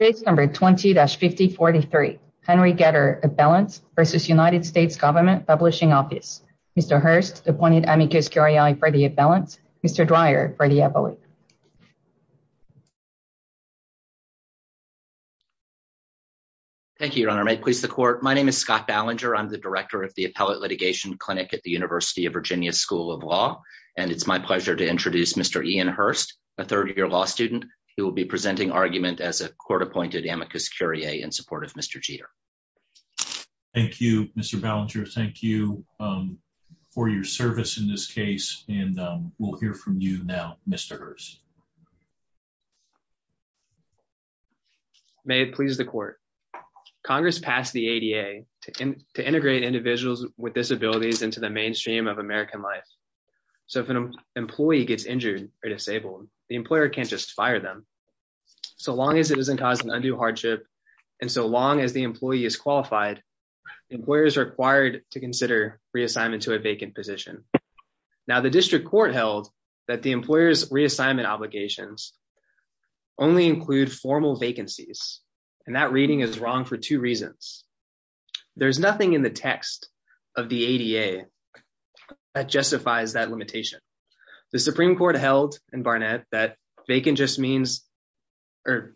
Case number 20-5043. Henry Geter, Appellants v. United States Government Publishing Office. Mr. Hurst appointed amicus curiae for the appellants. Mr. Dreyer for the appellate. Thank you, Your Honor. May it please the Court. My name is Scott Ballinger. I'm the director of the Appellate Litigation Clinic at the University of Virginia School of Law, and it's my pleasure to introduce Mr. Ian Hurst, a third-year law student, who will be presenting argument as a court-appointed amicus curiae in support of Mr. Geter. Thank you, Mr. Ballinger. Thank you for your service in this case, and we'll hear from you now, Mr. Hurst. May it please the Court. Congress passed the ADA to integrate individuals with disabilities into the mainstream of American life, so if an employee gets injured or disabled, the employer can't just fire them. So long as it doesn't cause an undue hardship, and so long as the employee is qualified, the employer is required to consider reassignment to a vacant position. Now, the district court held that the employer's reassignment obligations only include formal vacancies, and that reading is wrong for two reasons. There's nothing in the text of the ADA that justifies that limitation. The Supreme Court held in Barnett that vacant just means, or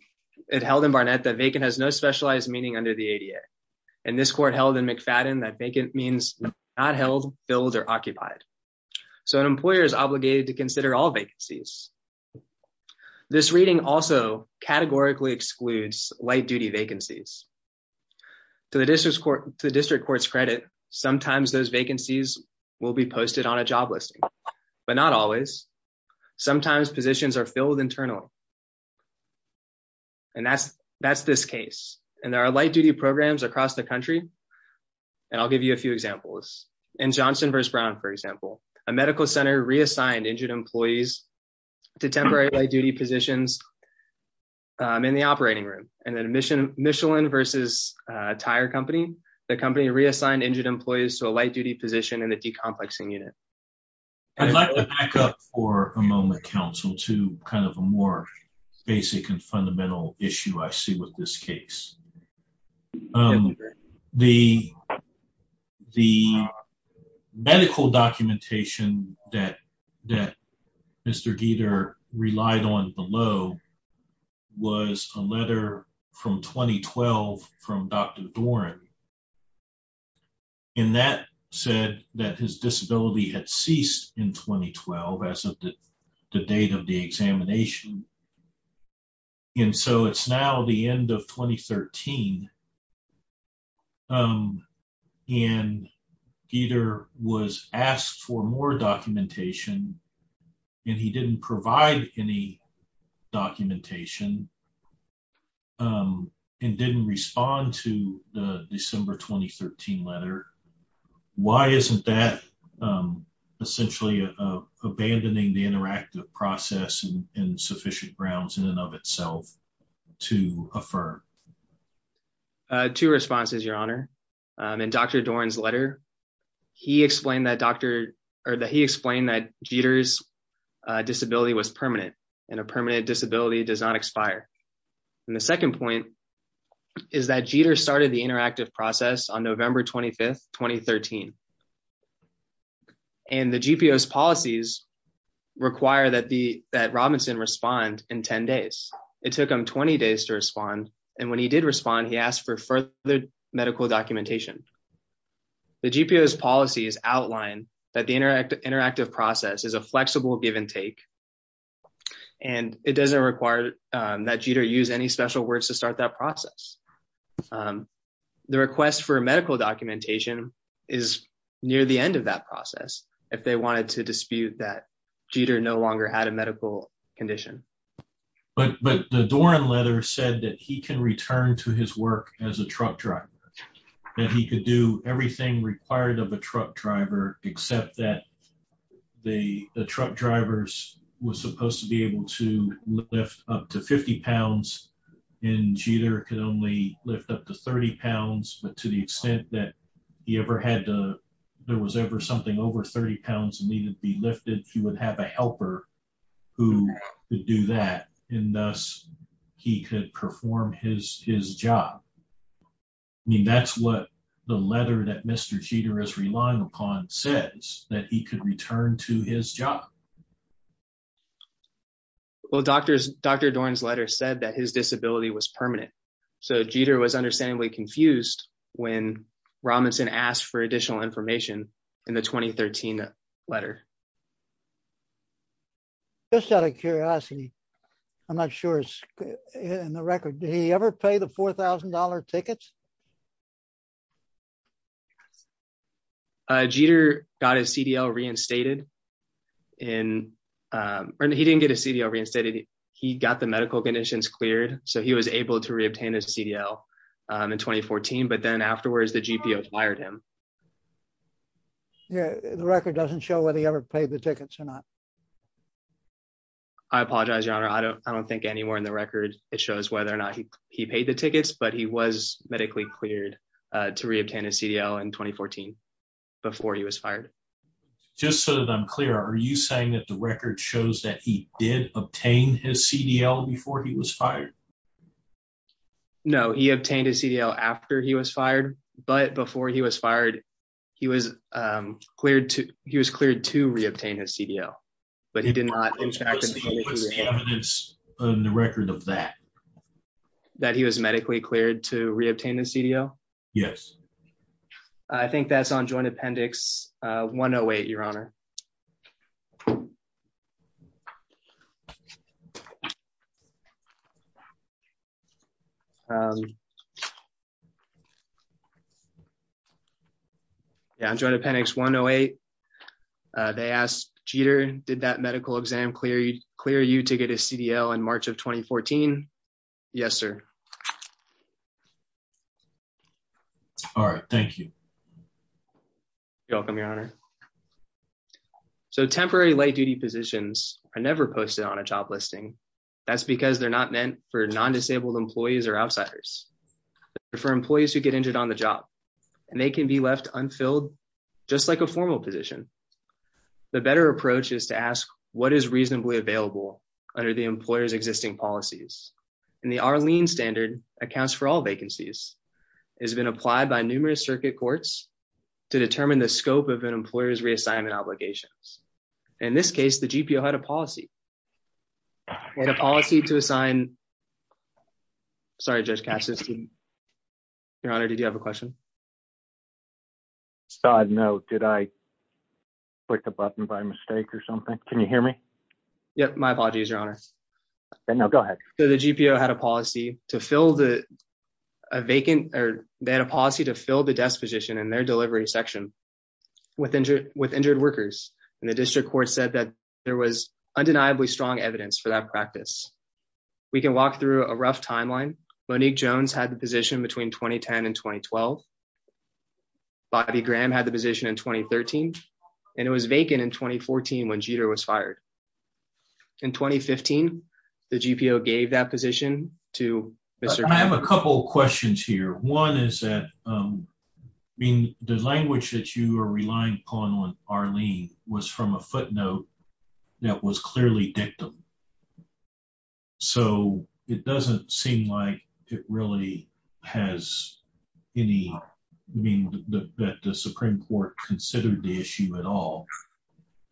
it held in Barnett that vacant has no specialized meaning under the ADA, and this court held in McFadden that vacant means not held, filled, or occupied. So an employer is light-duty vacancies. To the district court's credit, sometimes those vacancies will be posted on a job listing, but not always. Sometimes positions are filled internally, and that's this case, and there are light-duty programs across the country, and I'll give you a few examples. In Johnson v. Brown, for example, a medical center reassigned injured employees to temporary light-duty positions in the operating room, and then in Michelin v. Tire Company, the company reassigned injured employees to a light-duty position in the decomplexing unit. I'd like to back up for a moment, counsel, to kind of a more basic and fundamental issue I see with this case. The medical documentation that Mr. Gieter relied on below was a letter from 2012 from Dr. Doran, and that said that his disability had ceased in 2012 as of the date of the examination, and so it's now the end of 2013, and Gieter was asked for more documentation, and he didn't provide any documentation and didn't respond to the December 2013 letter. Why isn't that essentially abandoning the interactive process in sufficient grounds in and of itself to affirm? Two responses, your honor. In Dr. Doran's letter, he explained that Gieter's disability was permanent, and a permanent disability does not expire, and the second point is that Gieter started the interactive process on November 25, 2013, and the GPO's policies require that Robinson respond in 10 days. It took him 20 days to respond, and when he did respond, he asked for further medical documentation. The GPO's policies outline that the interactive process is a flexible give and take, and it doesn't require that Gieter use any special words to start that process. The request for medical documentation is near the end of that process if they wanted to dispute that Gieter no longer had a medical condition. But the Doran letter said that he can return to his work as a truck driver, that he could do everything required of a truck driver except that the truck driver was supposed to be able to lift up to 50 pounds, and Gieter could only lift up to 30 pounds, but to the extent that there was ever something over 30 pounds that needed to be lifted, he would have a helper who could do that, and thus he could perform his job. I mean, that's what the letter that Mr. Gieter is relying upon says, that he could return to his job. Well, Dr. Doran's letter said that his disability was permanent, so Gieter was understandably confused when Robinson asked for additional information in the 2013 letter. Just out of curiosity, I'm not sure it's in the record, did he ever pay the $4,000 tickets? Gieter got his CDL reinstated, and he didn't get his CDL reinstated, he got the medical conditions cleared, so he was able to reobtain his CDL in 2014, but then afterwards the GPO fired him. Yeah, the record doesn't show whether he ever paid the tickets or not. I apologize, your honor, I don't think anywhere in the record it shows whether or not he paid tickets, but he was medically cleared to reobtain his CDL in 2014 before he was fired. Just so that I'm clear, are you saying that the record shows that he did obtain his CDL before he was fired? No, he obtained his CDL after he was fired, but before he was fired, he was cleared to reobtain his CDL, but he did not interact with the evidence on the record of that. That he was medically cleared to reobtain his CDL? Yes. I think that's on joint appendix 108, your honor. Um, yeah, I'm trying to appendix 108. They asked Jeter, did that medical exam clear you to get a CDL in March of 2014? Yes, sir. All right, thank you. You're welcome, your honor. So temporary late duty positions are never posted on a job listing. That's because they're not meant for non-disabled employees or outsiders. For employees who get injured on the job, and they can be left unfilled, just like a formal position. The better approach is to ask what is reasonably available under the employer's existing policies. And the Arlene standard accounts for all vacancies. It has been applied by numerous circuit courts to determine the scope of an employer's reassignment obligations. In this case, the GPO had a policy. They had a policy to assign... Sorry, Judge Cassius. Your honor, did you have a question? I saw a note. Did I click a button by mistake or something? Can you hear me? Yeah, my apologies, your honor. No, go ahead. So the GPO had a policy to fill the vacant, or they had a policy to fill the desk position in their delivery section with injured workers. And the district court said that there was undeniably strong evidence for that practice. We can walk through a rough timeline. Monique Jones had the position between 2010 and 2012. Bobby Graham had the position in 2013. And it was vacant in 2014 when Jeter was fired. In 2015, the GPO gave that position to Mr. I have a couple of questions here. One is that, I mean, the language that you are relying upon on Arlene was from a footnote that was clearly dictum. So it doesn't seem like it really has any, I mean, that the Supreme Court considered the issue at all.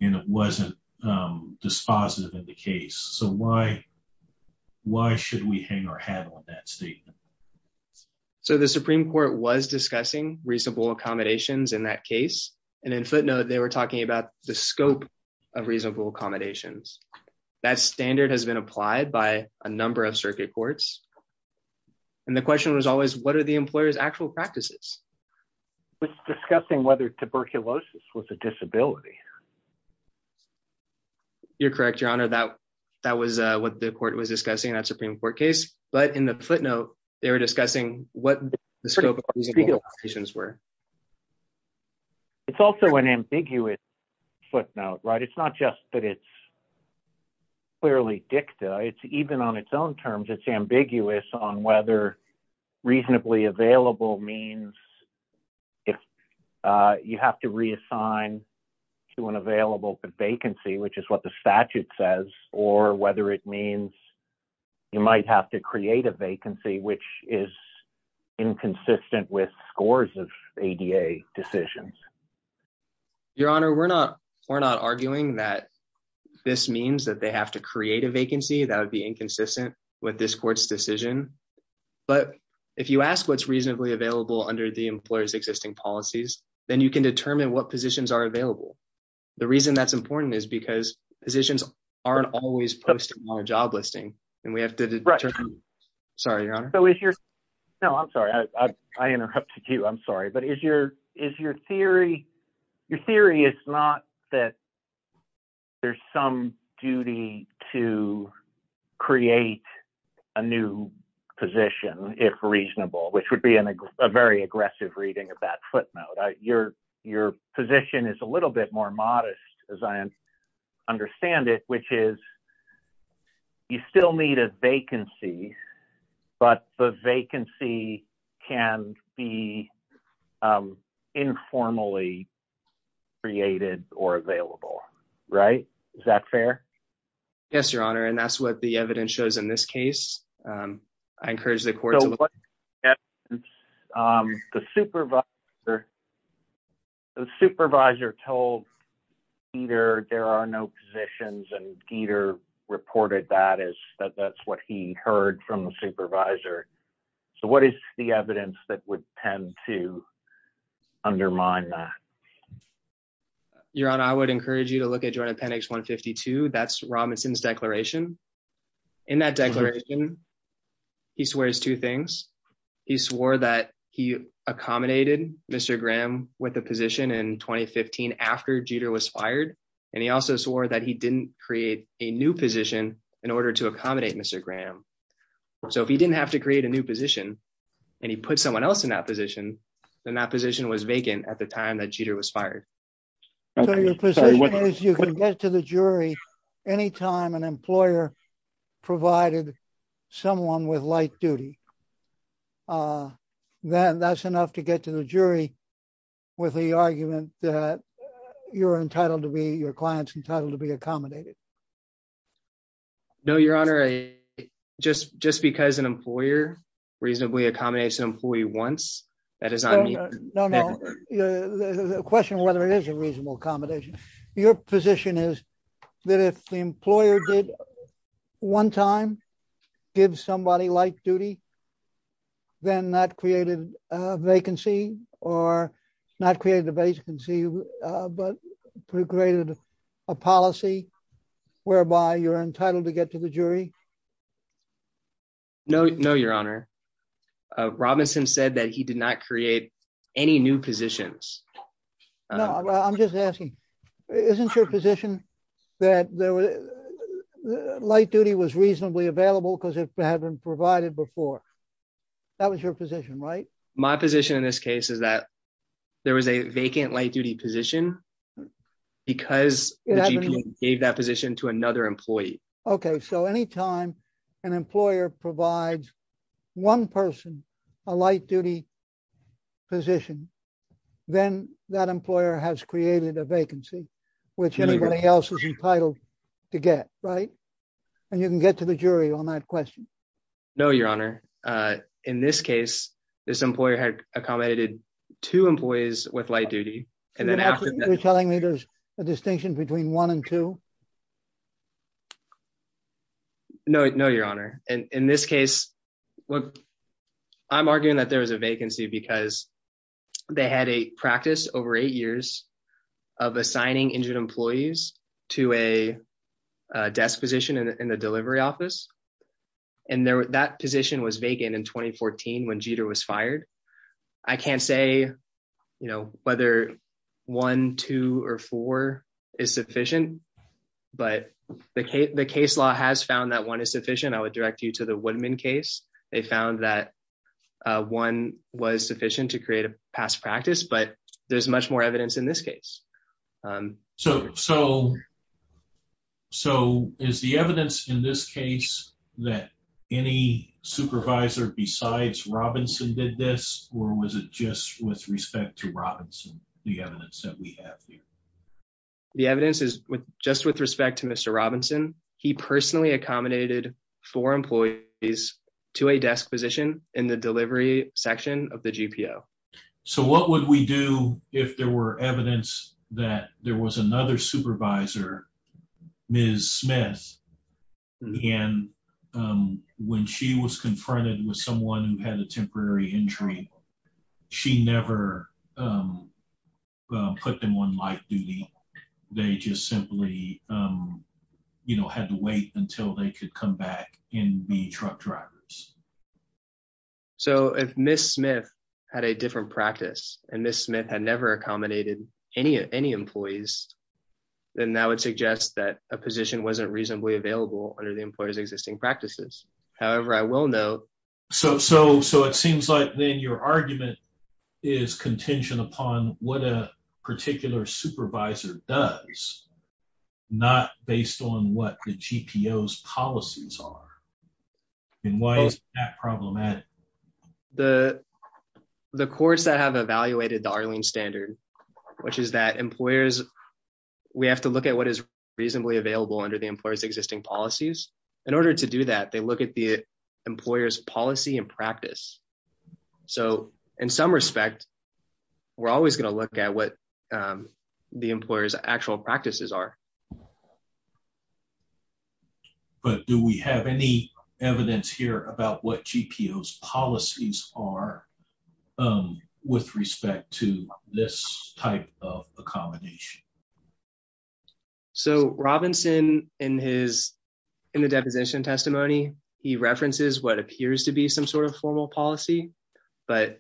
And it wasn't dispositive in the case. So why should we hang our hat on that statement? So the Supreme Court was discussing reasonable accommodations in that case. And in footnote, they were talking about the scope of reasonable accommodations. That standard has been applied by a number of circuit courts. And the question was always, what are the employer's actual practices? It's discussing whether tuberculosis was a disability. You're correct, your honor, that was what the court was discussing that Supreme Court case. But in the footnote, they were discussing what the scope of reasonable accommodations were. It's also an ambiguous footnote, right? It's not just that it's clearly dictum. It's even on its own terms, it's ambiguous on whether reasonably available means if you have to reassign to an available vacancy, which is what the statute says, or whether it means you might have to create a vacancy, which is inconsistent with scores of ADA decisions. Your honor, we're not arguing that this means that they have to create a vacancy that would be inconsistent with this court's decision. But if you ask what's reasonably available under the employer's existing policies, then you can determine what positions are available. The reason that's important is because positions aren't always posted on a job listing, and we have to determine. Sorry, your honor. No, I'm sorry, I interrupted you. I'm sorry. But is your theory, your theory is not that there's some duty to create a new position if reasonable, which would be a very aggressive reading of that footnote. Your position is a little bit more modest as I understand it, which is you still need a vacancy, but the vacancy can be informally created or available, right? Is that fair? Yes, your honor. And that's what the evidence shows in this case. I encourage the court to look at the evidence. The supervisor told Gieter there are no positions and Gieter reported that as that's what he heard from the supervisor. So what is the evidence that would tend to undermine that? Your honor, I would encourage you to look at joint appendix 152. That's Robinson's declaration. In that declaration, he swears two things. He swore that he accommodated Mr. Graham with a position in 2015 after Gieter was fired. And he also swore that he didn't create a new position in order to accommodate Mr. Graham. So if he didn't have to create a new position and he put someone else in that position, then that position was vacant at the time that Gieter was fired. So your position is you can get to the jury anytime an employer provided someone with light duty. Then that's enough to get to the jury with the argument that you're entitled to be, your client's entitled to be accommodated. No, your honor, just because an employer reasonably accommodates an employee once, that is on me. No, no, the question whether it is a reasonable accommodation. Your position is that if the employer did one time give somebody light duty, then that created a vacancy or not created a vacancy, but created a policy whereby you're entitled to get to the jury. No, no, your honor. Robinson said that he did not create any new positions. No, I'm just asking, isn't your position that light duty was reasonably available because it had been provided before? That was your position, right? My position in this case is that there was a vacant light duty position because the GP gave that position to another employee. Okay, so anytime an employer provides one person a light duty position, then that employer has created a vacancy, which anybody else is entitled to get, right? And you can get to the jury on that question. No, your honor. In this case, this employer had accommodated two employees with light duty. And then after that- You're telling me there's a distinction between one and two? No, no, your honor. And in this case, I'm arguing that there was a vacancy because they had a practice over eight years of assigning injured employees to a desk position in the delivery office. And that position was vacant in 2014 when Jeter was fired. I can't say whether one, two, or four is sufficient, but the case law has found that one is sufficient. I would direct you to the Woodman case. They found that one was sufficient to create a past practice, but there's much more evidence in this case. So is the evidence in this case that any supervisor besides Robinson did this, or was it just with respect to Robinson, the evidence that we have here? The evidence is just with respect to Mr. Robinson. He personally accommodated four employees to a desk position in the delivery section of the GPO. So what would we do if there were evidence that there was another supervisor, Ms. Smith, and when she was confronted with someone who had a temporary injury, she never put them on light duty. They just simply had to wait until they could come back and be truck drivers. So if Ms. Smith had a different practice, and Ms. Smith had never accommodated any employees, then that would suggest that a position wasn't reasonably available under the employer's existing practices. However, I will note... So it seems like then your argument is contention upon what a particular supervisor does, not based on what the GPO's policies are. And why is that problematic? The courts that have evaluated the Arlene Standard, which is that employers... We have to look at what is reasonably available under the employer's existing policies. In order to do that, they look at the employer's policy and practice. So in some respect, we're always going to look at what the employer's actual practices are. But do we have any evidence here about what GPO's policies are with respect to this type of accommodation? So Robinson, in the deposition testimony, he references what appears to be some sort of formal policy. But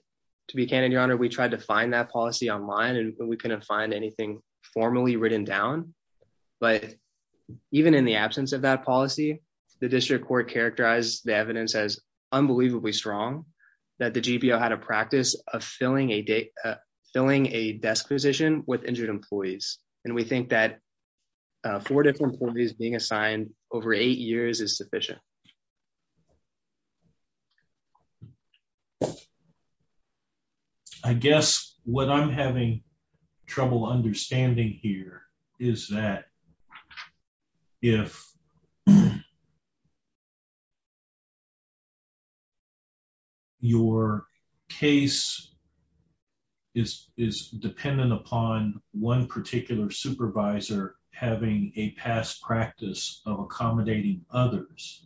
to be candid, Your Honor, we tried to find that policy online and we couldn't find anything formally written down. But even in the absence of that policy, the district court characterized the evidence as unbelievably strong that the GPO had a practice of filling a desk position with injured employees. And we think that four different employees being assigned over eight years is sufficient. I guess what I'm having trouble understanding here is that if your case is dependent upon one particular supervisor having a past practice of accommodating others,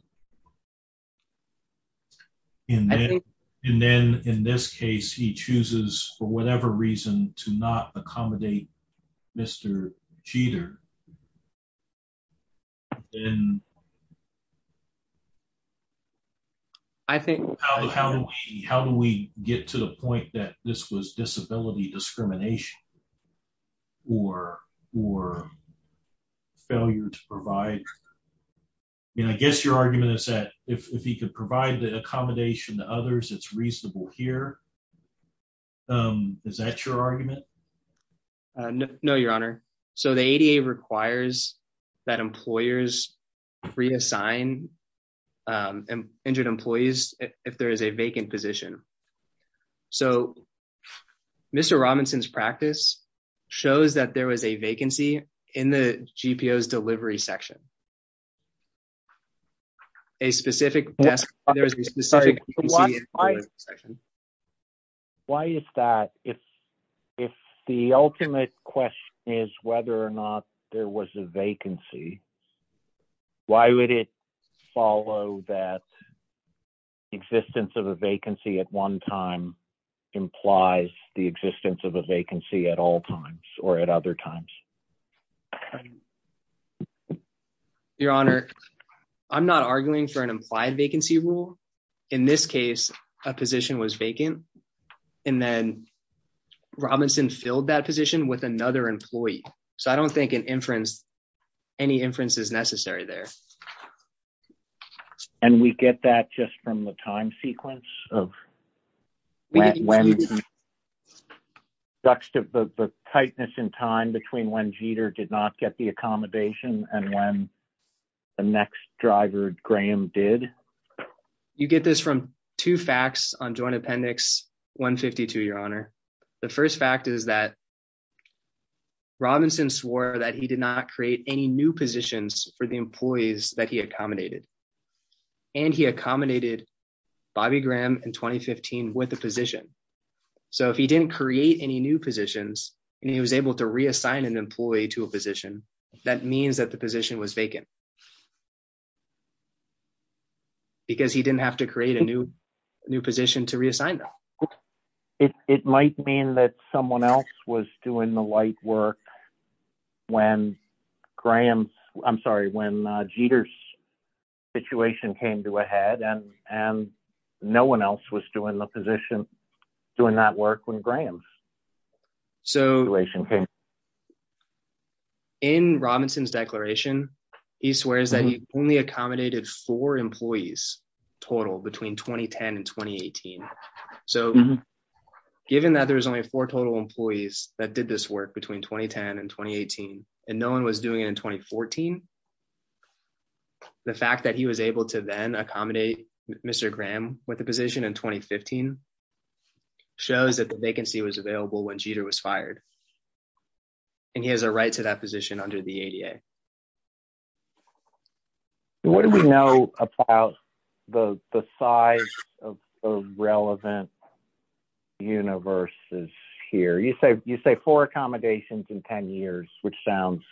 and then in this case, he chooses for whatever reason to not accommodate Mr. Jeter, then how do we get to the point that this was disability discrimination or failure to provide? I guess your argument is that if he could provide the accommodation to others, it's reasonable here. No, Your Honor. So the ADA requires that employers reassign injured employees if there is a vacant position. So Mr. Robinson's practice shows that there was a vacancy in the GPO's delivery section. A specific desk. Why is that? If the ultimate question is whether or not there was a vacancy, why would it follow that existence of a vacancy at one time implies the existence of a vacancy at all times or at other times? Your Honor, I'm not arguing for an implied vacancy rule. In this case, a position was vacant. And then Robinson filled that position with another employee. So I don't think any inference is necessary there. And we get that just from the time sequence of when tightness in time between when Jeter did not get the accommodation and when the next driver, Graham, did? You get this from two facts on Joint Appendix 152, Your Honor. The first fact is that Robinson swore that he did not create any new positions for the employees that he accommodated. And he accommodated Bobby Graham in 2015 with a position. So if he didn't create any new positions, and he was able to reassign an employee to a position, that means that the position was vacant. Because he didn't have to create a new position to reassign them. It might mean that someone else was doing the light work when Graham's, I'm sorry, when Jeter's situation came to a head and no one else was doing the position, doing that work when Graham's situation came to a head. In Robinson's declaration, he swears that he only accommodated four employees total between 2010 and 2018. So given that there was only four total employees that did this work between 2010 and 2018, and no one was doing it in 2014, the fact that he was able to then accommodate Mr. Graham with a position in 2015, shows that the vacancy was available when Jeter was fired. He has a right to that position under the ADA. What do we know about the size of relevant universes here? You say four accommodations in 10 years, which sounds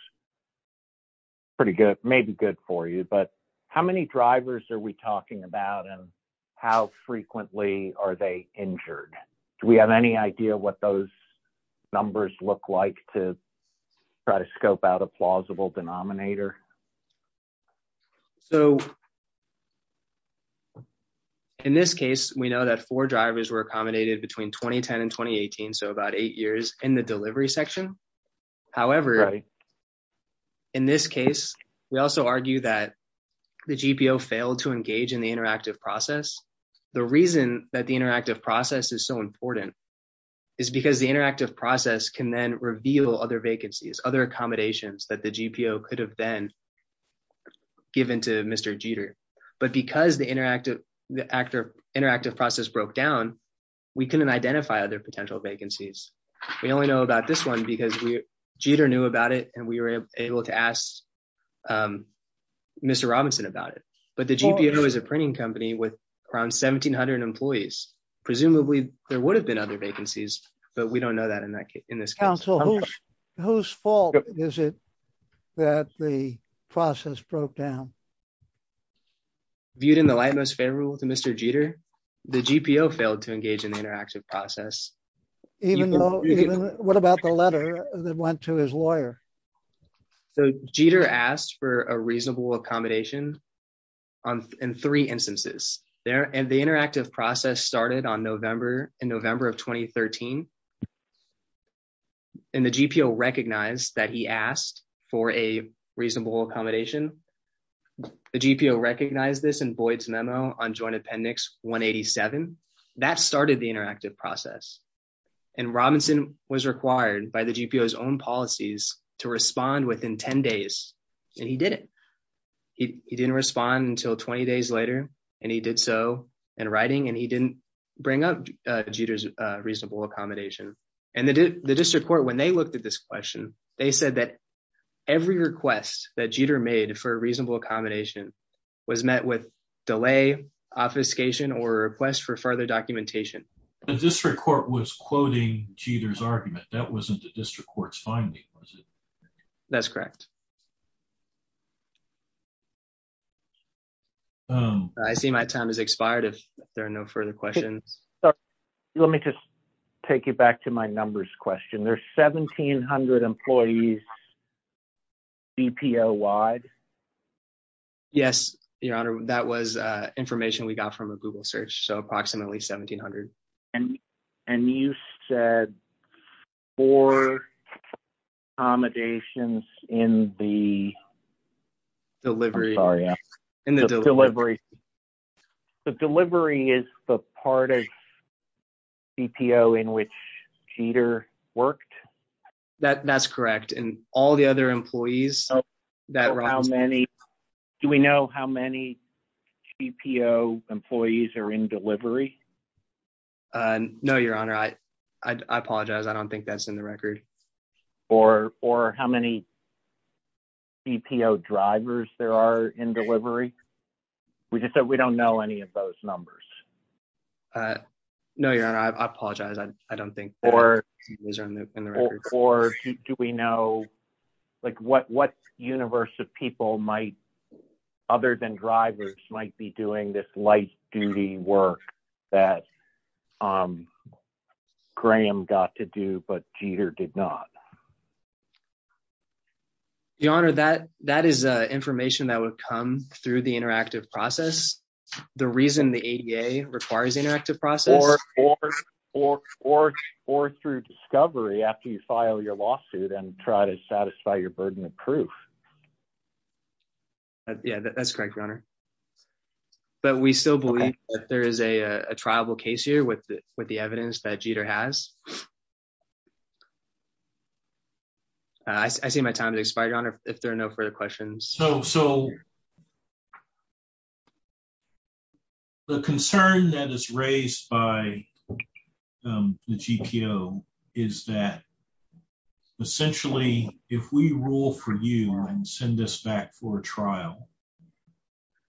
pretty good, maybe good for you, but how many drivers are we talking about and how frequently are they injured? Do we have any idea what those numbers look like to try to scope out a plausible denominator? So in this case, we know that four drivers were accommodated between 2010 and 2018, so about eight years in the delivery section. However, in this case, we also argue that the GPO failed to engage in the interactive process. The reason that the interactive process is so important is because the interactive process can then reveal other vacancies, other accommodations that the GPO could have then given to Mr. Jeter. But because the interactive process broke down, we couldn't identify other potential vacancies. We only know about this one because Jeter knew about it and we were able to ask Mr. Robinson about it. But the GPO is a there would have been other vacancies, but we don't know that in this case. Council, whose fault is it that the process broke down? Viewed in the light most favorable to Mr. Jeter, the GPO failed to engage in the interactive process. What about the letter that went to his lawyer? So Jeter asked for a reasonable accommodation in three instances. The interactive process started in November of 2013, and the GPO recognized that he asked for a reasonable accommodation. The GPO recognized this in Boyd's memo on Joint Appendix 187. That started the interactive process, and Robinson was required by the GPO's own policies to respond within 10 days, and he did it. He didn't respond until 20 days later, and he did so in writing, and he didn't bring up Jeter's reasonable accommodation. And the district court, when they looked at this question, they said that every request that Jeter made for a reasonable accommodation was met with delay, obfuscation, or a request for further documentation. The district court was quoting Jeter's argument. That wasn't the district court's finding, was it? That's correct. I see my time has expired if there are no further questions. Let me just take you back to my numbers question. There's 1,700 employees GPO-wide? Yes, Your Honor, that was information we got from a Google search, so approximately 1,700. And you said four accommodations in the delivery. The delivery is the part of GPO in which Jeter worked? That's correct, and all the other employees that... Do we know how many GPO employees are in delivery? No, Your Honor, I apologize. I don't think that's in the record. Or how many GPO drivers there are in delivery? We just said we don't know any of those numbers. No, Your Honor, I apologize. I don't think those are in the record. Or do we know, like, what universe of people might, other than drivers, might be doing this duty work that Graham got to do but Jeter did not? Your Honor, that is information that would come through the interactive process. The reason the ADA requires interactive process... Or through discovery after you file your lawsuit and try to satisfy your burden of proof. Yeah, that's correct, Your Honor. But we still believe that there is a triable case here with the evidence that Jeter has. I see my time has expired, Your Honor, if there are no further questions. So, the concern that is raised by the GPO is that, essentially, if we rule for you and send us back for a trial,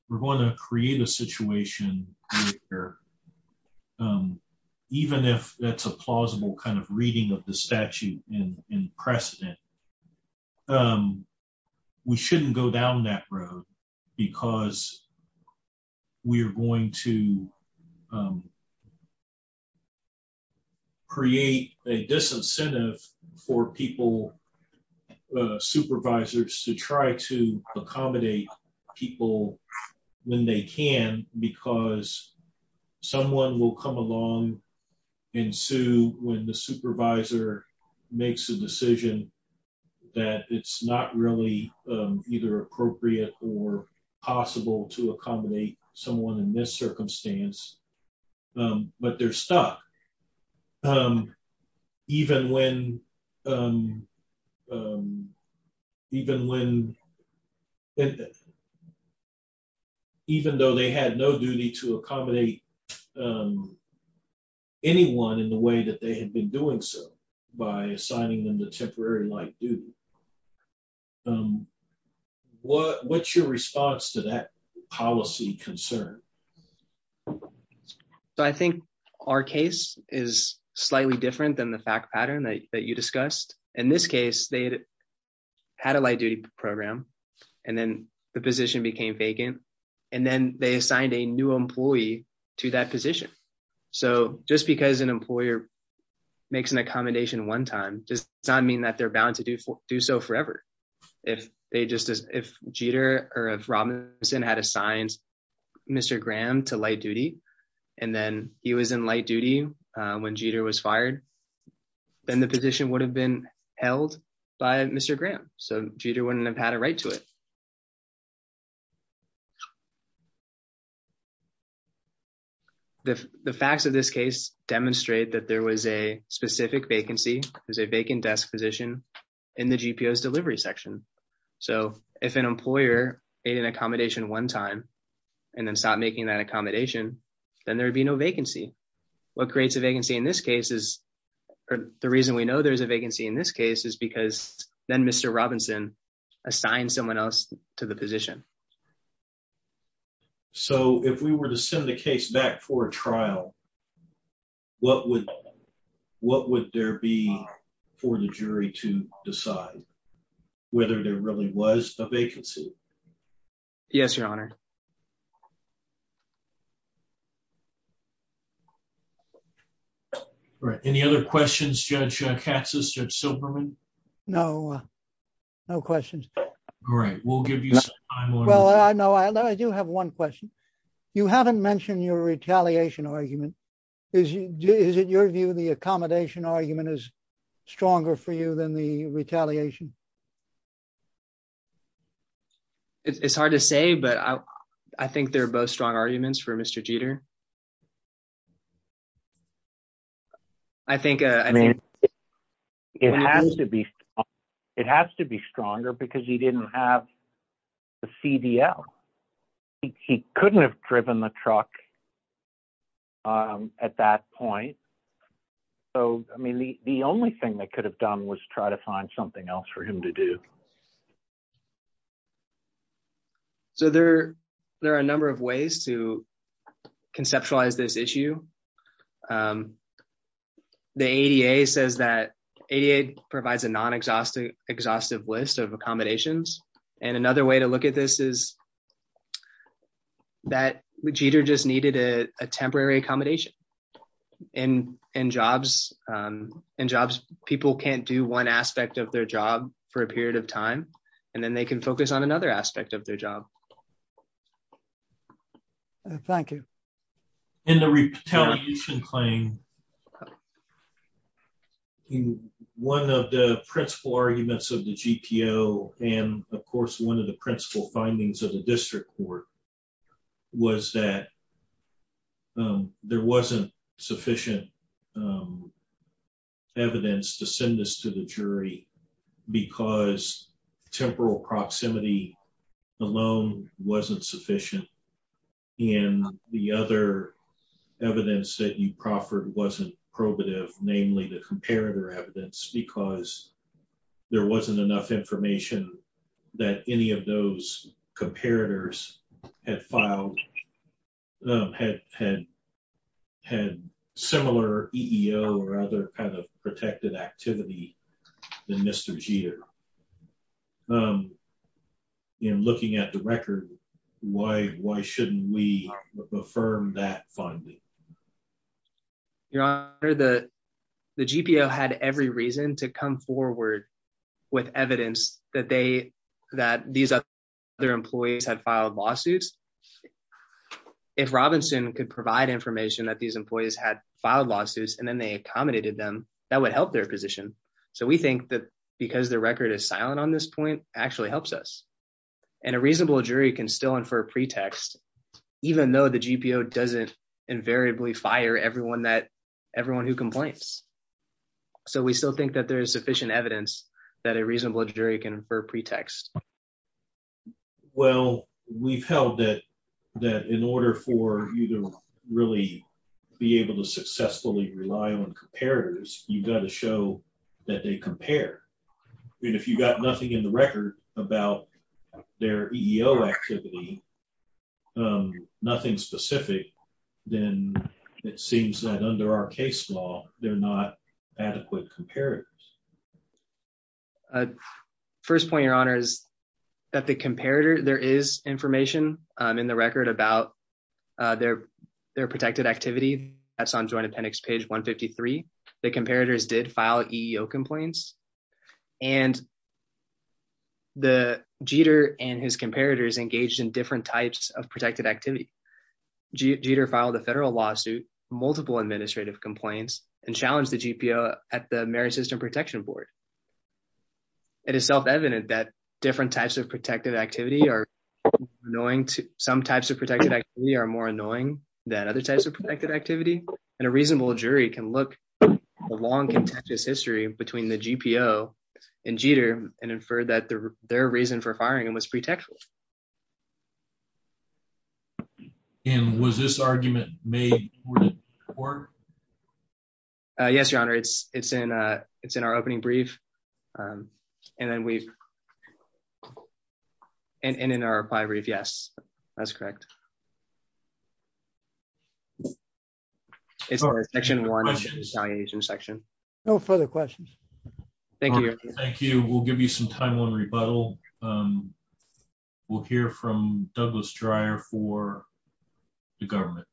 we're going to create a situation where, even if that's a plausible kind of reading of the statute in precedent, we shouldn't go down that road because we are going to create a disincentive for people, supervisors, to try to accommodate people when they can because someone will come along and sue when the supervisor makes a decision that it's not really either appropriate or possible to accommodate someone in this circumstance. But they're stuck. Um, even when... Even when... Even though they had no duty to accommodate anyone in the way that they had been doing so by assigning them the temporary light duty. What's your response to that policy concern? So, I think our case is slightly different than the fact pattern that you discussed. In this case, they had a light duty program and then the position became vacant and then they assigned a new employee to that position. So, just because an employer makes an accommodation one time does not mean that they're bound to do so forever. If they just... If Jeter or if Robinson had assigned Mr. Graham to light duty and then he was in light duty when Jeter was fired, then the position would have been held by Mr. Graham. So, Jeter wouldn't have had a right to it. The facts of this case demonstrate that there was a specific vacancy, there's a vacant desk position in the GPO's delivery section. So, if an employer made an accommodation one time and then stopped making that accommodation, then there would be no vacancy. What creates a vacancy in this case is... The reason we know there's a vacancy in this case is because then Mr. Robinson assigned someone else to the position. What would there be for the jury to decide whether there really was a vacancy? Yes, Your Honor. All right. Any other questions, Judge Katsas, Judge Silberman? No, no questions. All right. We'll give you some time. Well, I know I do have one question. You haven't mentioned your retaliation argument. Is it your view the accommodation argument is stronger for you than the retaliation? It's hard to say, but I think they're both strong arguments for Mr. Jeter. I think... It has to be stronger because he didn't have the CDL. He couldn't have driven the truck at that point. So, I mean, the only thing they could have done was try to find something else for him to do. So, there are a number of ways to conceptualize this issue. The ADA says that... ADA provides a non-exhaustive list of accommodations. And another way to look at this is that Jeter just needed a temporary accommodation. And in jobs, people can't do one aspect of their job for a period of time, and then they can focus on another aspect of their job. Thank you. In the retaliation claim, one of the principal arguments of the GPO, and of course, one of the principal findings of the district court, was that there wasn't sufficient evidence to send this to the jury because temporal proximity alone wasn't sufficient. And the other evidence that you proffered wasn't probative, namely the comparator evidence, because there wasn't enough information that any of those comparators had filed, had similar EEO or other kind of protected activity than Mr. Jeter. You know, looking at the record, why shouldn't we affirm that finding? Your Honor, the GPO had every reason to come forward with evidence that these other employees had filed lawsuits. If Robinson could provide information that these employees had filed lawsuits and then they accommodated them, that would help their position. So we think that because the record is silent on this point actually helps us. And a reasonable jury can still infer pretext, even though the GPO doesn't invariably fire everyone who complains. So we still think that there is sufficient evidence that a reasonable jury can infer pretext. Well, we've held that in order for you to really be able to successfully rely on comparators, you've got to show that they compare. I mean, if you've got nothing in the record about their EEO activity, nothing specific, then it seems that under our case law, they're not adequate comparators. First point, Your Honor, is that the comparator, there is information in the record about their protected activity. That's on Joint Appendix page 153. The comparators did file EEO complaints. And the Jeter and his comparators engaged in different types of protected activity. Jeter filed a federal lawsuit, multiple administrative complaints, and challenged the GPO at the Marist System Protection Board. It is self-evident that different types of protected activity are annoying. Some types of protected activity are more annoying than other types of protected activity. And a reasonable jury can look at the long, contentious history between the GPO and Jeter and infer that their reason for firing him was pretextful. And was this argument made in court? Yes, Your Honor, it's in our opening brief. And then we've... And in our reply brief, yes, that's correct. It's in Section 1, Evaluation Section. No further questions. Thank you, Your Honor. Thank you. We'll give you some time on rebuttal. We'll hear from Douglas Dreyer for the government.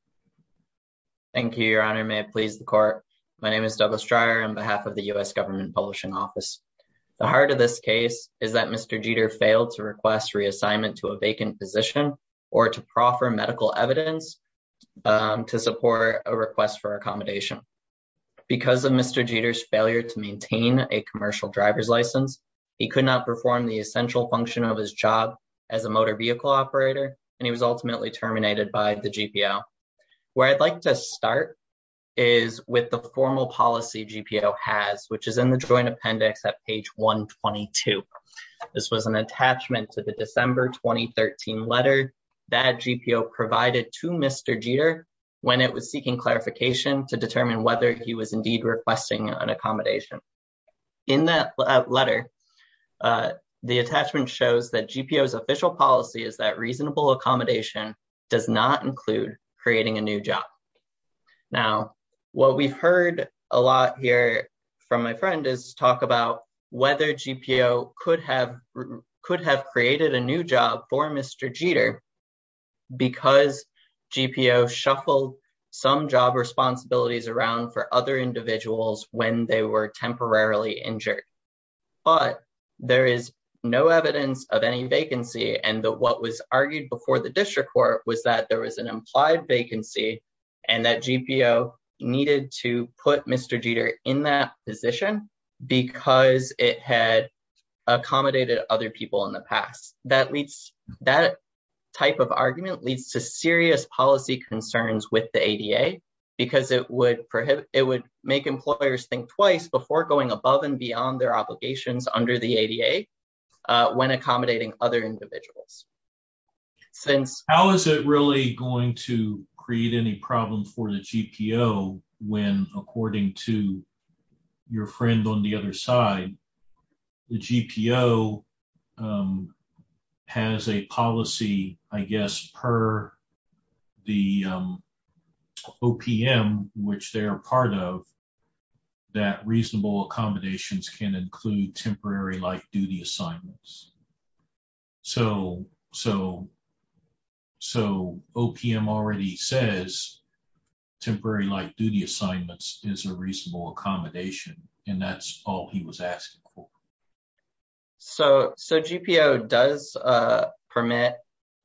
Thank you, Your Honor. May it please the court. My name is Douglas Dreyer on behalf of the U.S. Government Publishing Office. The heart of this case is that Mr. Jeter failed to request reassignment to a vacant physician or to proffer medical evidence to support a request for accommodation. Because of Mr. Jeter's failure to maintain a commercial driver's license, he could not perform the essential function of his job as a motor vehicle operator, and he was ultimately terminated by the GPO. Where I'd like to start is with the formal policy GPO has, which is in the Joint Appendix at page 122. This was an attachment to the December 2013 letter that GPO provided to Mr. Jeter when it was seeking clarification to determine whether he was indeed requesting an accommodation. In that letter, the attachment shows that GPO's official policy is that reasonable accommodation does not include creating a new job. Now, what we've heard a lot here from my friend is talk about whether GPO could have created a new job for Mr. Jeter because GPO shuffled some job responsibilities around for other individuals when they were temporarily injured. But there is no evidence of any vacancy, and what was argued before the district court was that there was an implied vacancy and that GPO needed to put Mr. Jeter in that position because it had accommodated other people in the past. That type of argument leads to serious policy concerns with the ADA because it would make employers think twice before going above and beyond their obligations under the ADA when accommodating other individuals. How is it really going to create any problems for the GPO when, according to your friend on the other side, the GPO has a policy, I guess, per the OPM, which they are part of, that reasonable accommodations can include temporary light-duty assignments? So, OPM already says temporary light-duty assignments is a reasonable accommodation, and that's all he was asking for. So, GPO does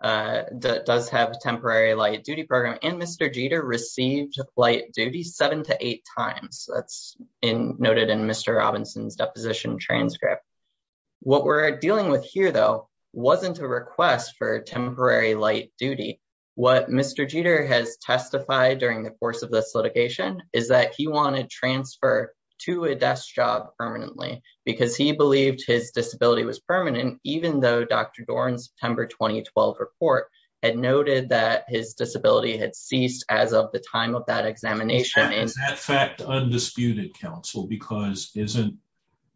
have a temporary light-duty program, and Mr. Jeter received light-duty seven to eight times. That's noted in Mr. Robinson's deposition transcript. What we're dealing with here, though, wasn't a request for temporary light-duty. What Mr. Jeter has testified during the course of this litigation is that he wanted transfer to a desk job permanently because he believed his disability was permanent, even though Dr. Doran's September 2012 report had noted that his disability had ceased as of the time of that examination. Is that fact undisputed, counsel? Because isn't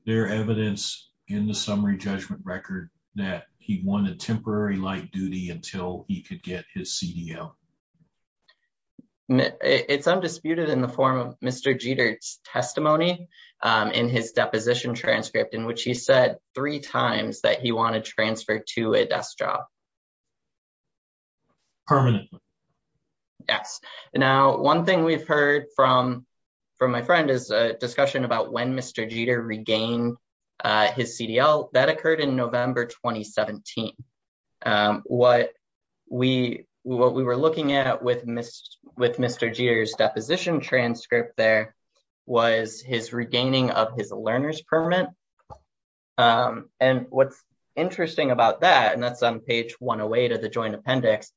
there evidence in the summary judgment record that he wanted temporary light-duty until he could get his CDL? It's undisputed in the form of Mr. Jeter's testimony in his deposition transcript, in which he said three times that he wanted transfer to a desk job. Permanently? Yes. Now, one thing we've heard from my friend is a discussion about when Mr. Jeter regained his CDL. That occurred in November 2017. What we were looking at with Mr. Jeter's deposition transcript there was his regaining of his learner's permit. And what's interesting about that, and that's on page 108 of the joint appendix,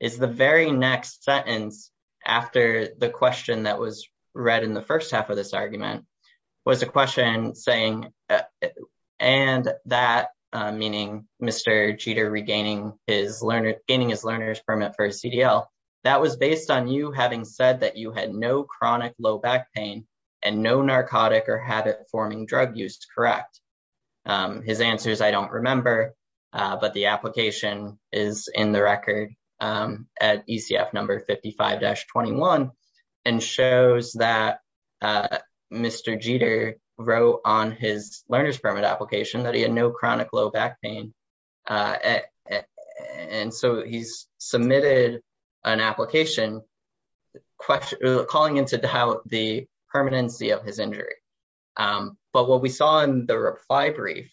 is the very next sentence after the question that was read in the first half of this argument was a question saying, and that, meaning Mr. Jeter regaining his learner's permit for CDL, that was based on you having said that you had no chronic low back pain and no narcotic or habit-forming drug use to correct. His answer is, I don't remember, but the application is in the record. At ECF number 55-21, and shows that Mr. Jeter wrote on his learner's permit application that he had no chronic low back pain. And so he's submitted an application calling into doubt the permanency of his injury. But what we saw in the reply brief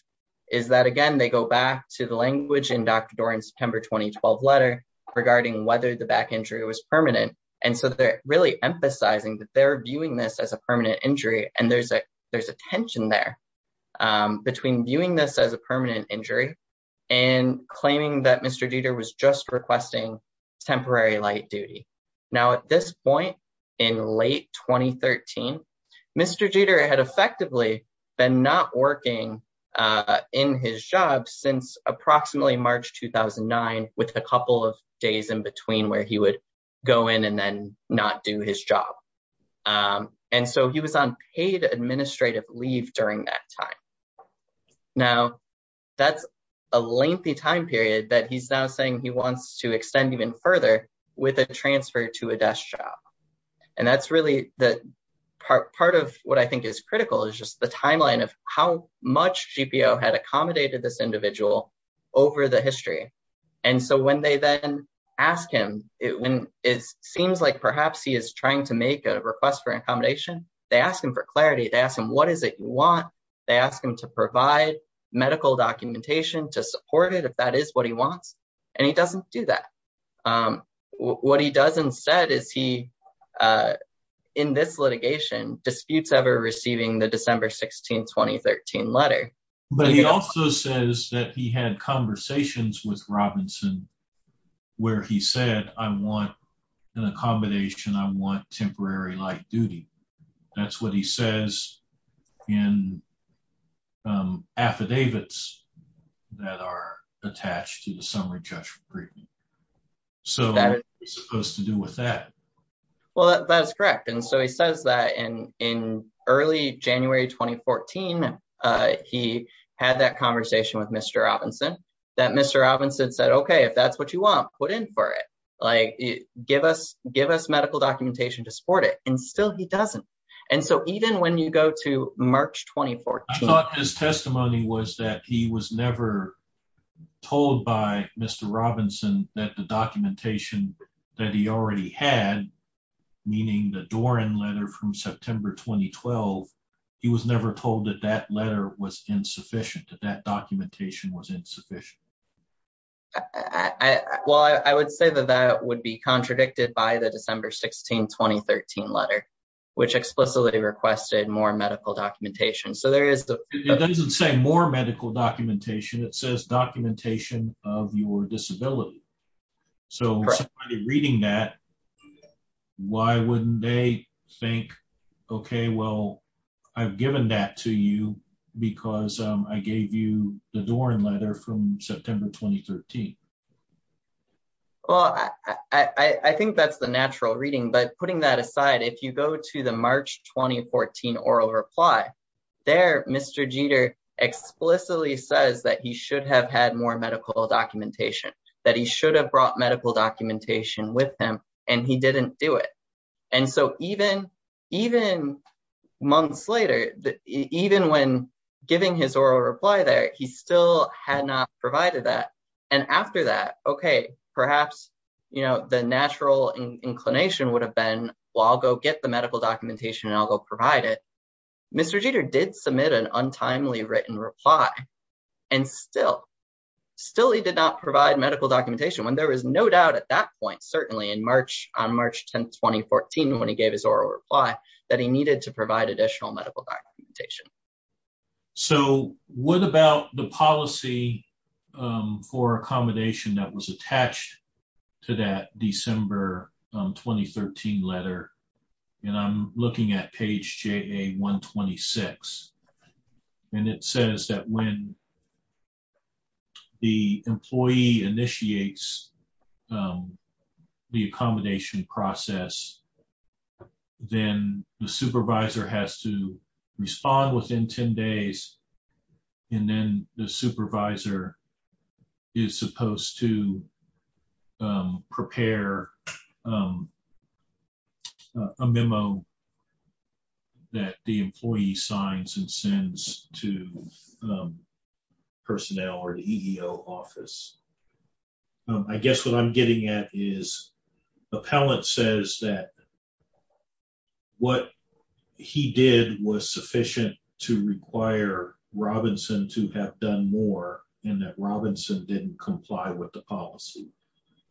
is that, again, they go back to the language in Dr. Doerr in September 2012 letter regarding whether the back injury was permanent. And so they're really emphasizing that they're viewing this as a permanent injury, and there's a tension there between viewing this as a permanent injury and claiming that Mr. Jeter was just requesting temporary light duty. Now, at this point in late 2013, Mr. Jeter had effectively been not working in his job since approximately March 2009, with a couple of days in between where he would go in and then not do his job. And so he was on paid administrative leave during that time. Now, that's a lengthy time period that he's now saying he wants to extend even further with a transfer to a desk job. And that's really part of what I think is critical is just the timeline of how much GPO had accommodated this individual over the history. And so when they then ask him, it seems like perhaps he is trying to make a request for accommodation. They ask him for clarity. They ask him, what is it you want? They ask him to provide medical documentation to support it if that is what he wants. And he doesn't do that. What he does instead is he, in this litigation, disputes ever receiving the December 16, 2013 letter. But he also says that he had conversations with Robinson where he said, I want an accommodation. I want temporary light duty. That's what he says in affidavits that are attached to the summary judgment. So what's it supposed to do with that? Well, that's correct. And so he says that in early January, 2014, he had that conversation with Mr. Robinson that Mr. Robinson said, okay, if that's what you want, put in for it. Like, give us medical documentation to support it. And still he doesn't. And so even when you go to March, 2014. I thought his testimony was that he was never told by Mr. Robinson that the documentation that he already had, meaning the Doran letter from September, 2012, he was never told that that letter was insufficient, that that documentation was insufficient. Well, I would say that that would be contradicted by the December 16, 2013 letter, which explicitly requested more medical documentation. So there is the- It doesn't say more medical documentation. It says documentation of your disability. So somebody reading that, why wouldn't they think, okay, well, I've given that to you because I gave you the Doran letter from September, 2013. Well, I think that's the natural reading. But putting that aside, if you go to the March, 2014 oral reply, there, Mr. Jeter explicitly says that he should have had more medical documentation, that he should have brought medical documentation with him, and he didn't do it. And so even months later, even when giving his oral reply there, he still had not provided that. And after that, okay, perhaps the natural inclination would have been, well, I'll go get the medical documentation and I'll go provide it. Mr. Jeter did submit an untimely written reply. And still, still he did not provide medical documentation when there was no doubt at that point, certainly on March 10th, 2014, when he gave his oral reply, that he needed to provide additional medical documentation. So what about the policy for accommodation that was attached to that December, 2013 letter? And I'm looking at page JA-126. And it says that when the employee initiates the accommodation process, then the supervisor has to respond within 10 days. And then the supervisor is supposed to prepare a memo that the employee signs and sends to personnel or the EEO office. I guess what I'm getting at is appellant says that what he did was sufficient to require Robinson to have done more and that Robinson didn't comply with the policy.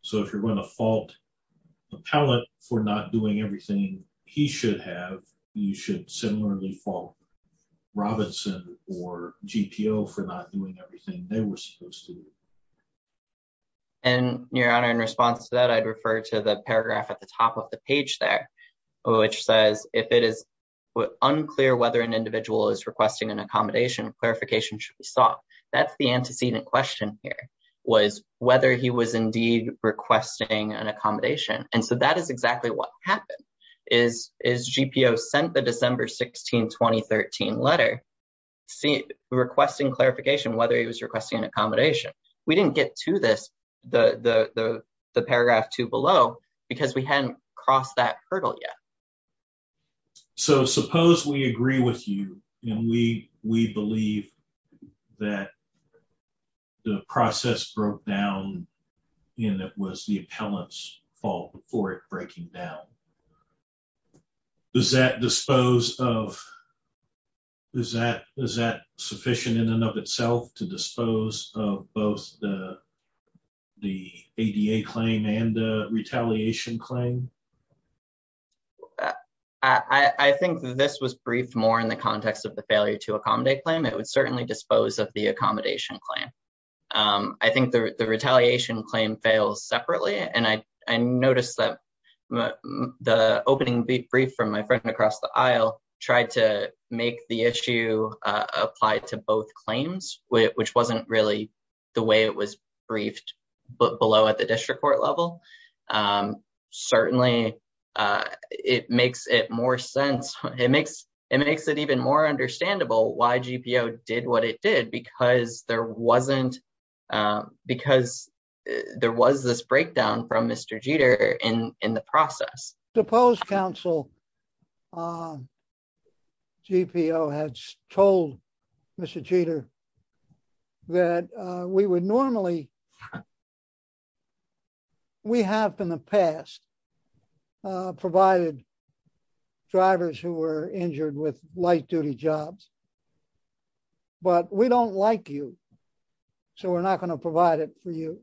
So if you're going to fault appellant for not doing everything he should have, you should similarly fault Robinson or GPO for not doing everything they were supposed to do. And your honor, in response to that, I'd refer to the paragraph at the top of the page there, which says if it is unclear whether an individual is requesting an accommodation, clarification should be sought. That's the antecedent question here was whether he was indeed requesting an accommodation. And so that is exactly what happened is GPO sent the December 16, 2013 letter, requesting clarification whether he was requesting an accommodation. We didn't get to this, the paragraph two below because we hadn't crossed that hurdle yet. So suppose we agree with you and we believe that the process broke down and it was the appellant's fault for it breaking down. Does that dispose of, is that sufficient in and of itself to dispose of both the ADA claim and the retaliation claim? I think this was briefed more in the context of the failure to accommodate claim. It would certainly dispose of the accommodation claim. I think the retaliation claim fails separately. And I noticed that the opening brief from my friend across the aisle tried to make the issue apply to both claims, which wasn't really the way it was briefed below at the district court level. Certainly it makes it more sense. It makes it even more understandable why GPO did what it did because there was this breakdown from Mr. Jeter in the process. Suppose council GPO had told Mr. Jeter that we would normally, we have in the past provided drivers who were injured with light duty jobs, but we don't like you. So we're not going to provide it for you.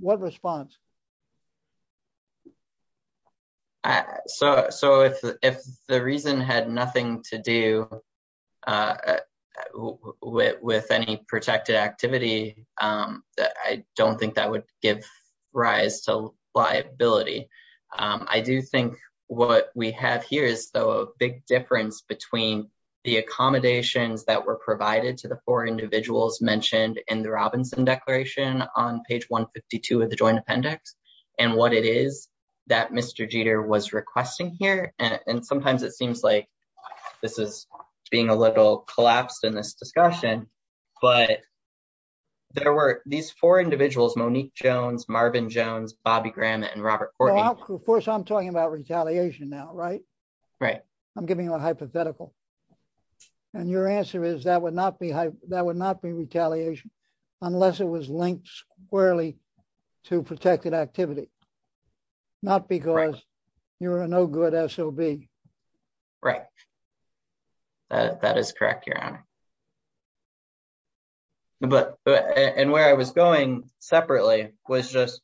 What response? So if the reason had nothing to do with any protected activity, I don't think that would give rise to liability. I do think what we have here is a big difference between the accommodations that were provided to the four individuals mentioned in the Robinson Declaration on page 152 of the joint appendix and what it is that Mr. Jeter was requesting here. And sometimes it seems like this is being a little collapsed in this discussion, but there were these four individuals, Monique Jones, Marvin Jones, Bobby Graham, and Robert Corby. First, I'm talking about retaliation now, right? Right. I'm giving you a hypothetical. And your answer is that would not be retaliation unless it was linked squarely to protected activity, not because you're a no good SOB. Right. That is correct, Your Honor. But, and where I was going separately was just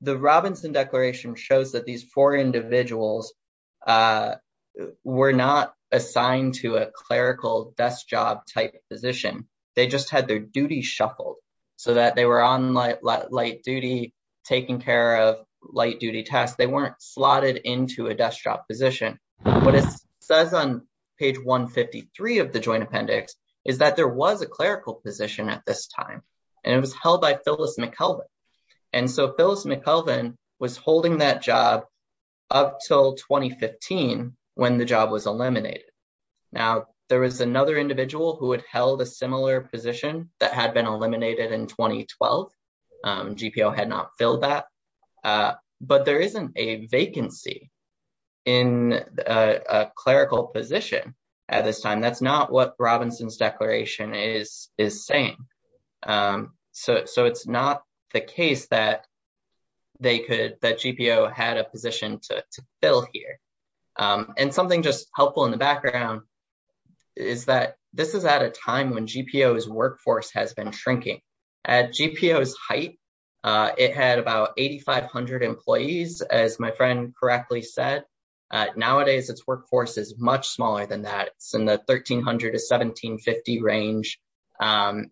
the Robinson Declaration shows that these four individuals were not assigned to a clerical desk job type position. They just had their duties shuffled so that they were on light duty, taking care of light duty tasks. They weren't slotted into a desk job position. What it says on page 153 of the joint appendix is that there was a clerical position at this time and it was held by Phyllis McKelvin. And so Phyllis McKelvin was holding that job up till 2015 when the job was eliminated. Now, there was another individual who had held a similar position that had been eliminated in 2012. GPO had not filled that. But there isn't a vacancy in a clerical position at this time. That's not what Robinson's Declaration is saying. So it's not the case that they could, that GPO had a position to fill here. And something just helpful in the background is that this is at a time when GPO's workforce has been shrinking. At GPO's height, it had about 8,500 employees, as my friend correctly said. Nowadays, its workforce is much smaller than that. It's in the 1,300 to 1,750 range and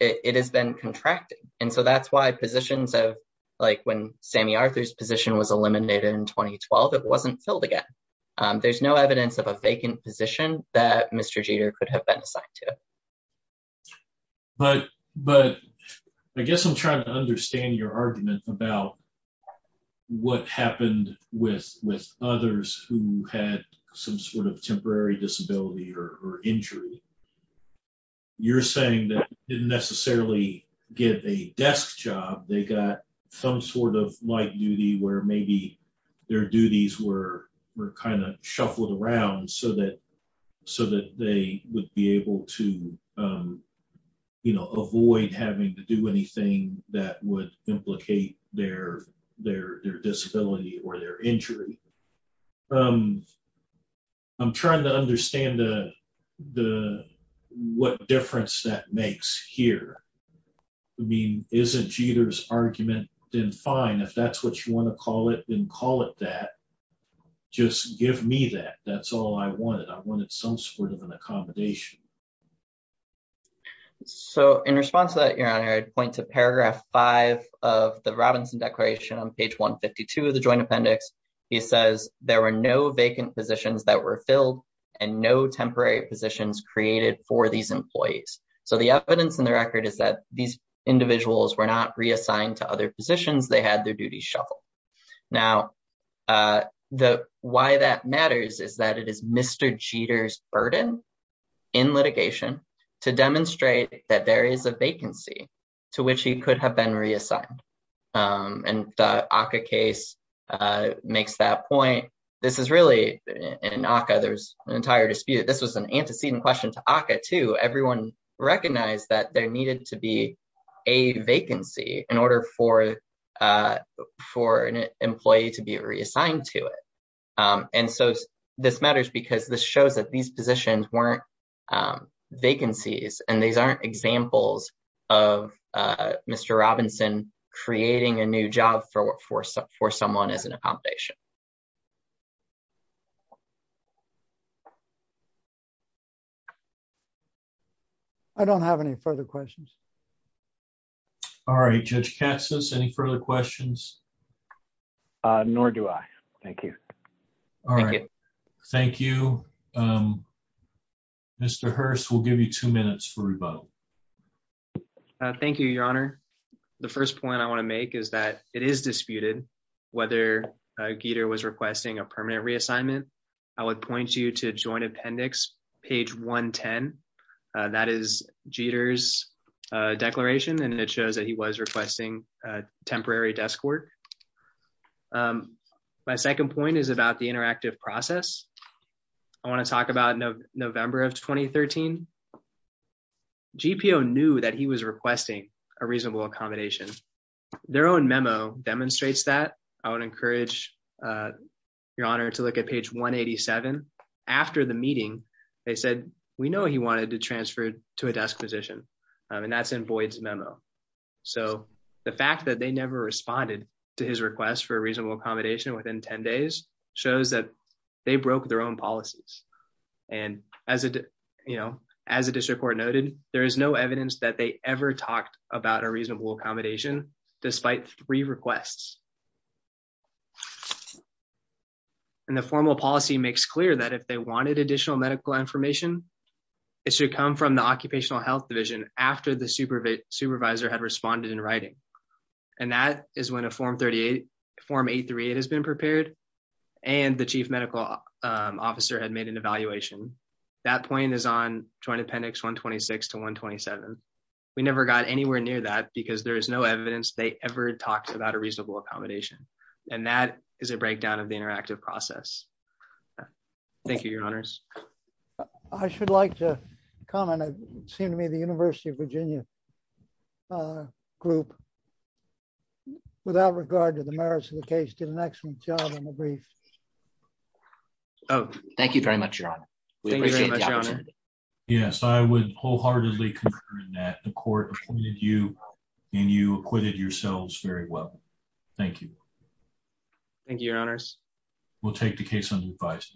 it has been contracting. And so that's why positions of, like when Sammy Arthur's position was eliminated in 2012, it wasn't filled again. There's no evidence of a vacant position that Mr. Jeter could have been assigned to. But I guess I'm trying to understand your argument about what happened with others who had some sort of temporary disability or injury. You're saying that they didn't necessarily get a desk job. They got some sort of light duty where maybe their duties were kind of shuffled around so that they would be able to avoid having to do anything that would implicate their disability or their injury. I'm trying to understand what difference that makes here. I mean, isn't Jeter's argument then fine if that's what you want to call it, then call it that. Just give me that. That's all I wanted. I wanted some sort of an accommodation. So in response to that, your honor, I'd point to paragraph five of the Robinson Declaration on page 152 of the joint appendix. He says, there were no vacant positions that were filled and no temporary positions created for these employees. So the evidence in the record is that these individuals were not reassigned to other positions. They had their duties shuffled. Now, why that matters is that it is Mr. Jeter's burden in litigation to demonstrate that there is a vacancy to which he could have been reassigned. And the ACCA case makes that point. This is really, in ACCA, there's an entire dispute. This was an antecedent question to ACCA too. Everyone recognized that there needed to be a vacancy in order for an employee to be reassigned to it. And so this matters because this shows that these positions weren't vacancies and these aren't examples of Mr. Robinson creating a new job for someone as an accommodation. I don't have any further questions. All right, Judge Katsos, any further questions? Nor do I, thank you. All right, thank you. Mr. Hurst, we'll give you two minutes for rebuttal. Thank you, your honor. The first point I wanna make is that it is disputed whether Jeter was requesting a permanent reassignment. I would point you to Joint Appendix, page 110. That is Jeter's declaration and it shows that he was requesting temporary desk work. My second point is about the interactive process. I wanna talk about November of 2013. GPO knew that he was requesting a reasonable accommodation. Their own memo demonstrates that. I would encourage your honor to look at page 187. After the meeting, they said, we know he wanted to transfer to a desk position and that's in Boyd's memo. So the fact that they never responded to his request for a reasonable accommodation within 10 days shows that they broke their own policies. And as a district court noted, there is no evidence that they ever talked about a reasonable accommodation despite three requests. And the formal policy makes clear that if they wanted additional medical information, it should come from the Occupational Health Division after the supervisor had responded in writing. And that is when a Form 838 has been prepared and the chief medical officer had made an evaluation. That point is on Joint Appendix 126 to 127. We never got anywhere near that because there is no evidence they ever talked about a reasonable accommodation. And that is a breakdown of the interactive process. Thank you, your honors. I should like to comment. It seemed to me the University of Virginia group without regard to the merits of the case Oh, thank you very much, your honor. Thank you very much, your honor. Yes, I would wholeheartedly confirm that the court appointed you and you acquitted yourselves very well. Thank you. Thank you, your honors. We'll take the case under advice.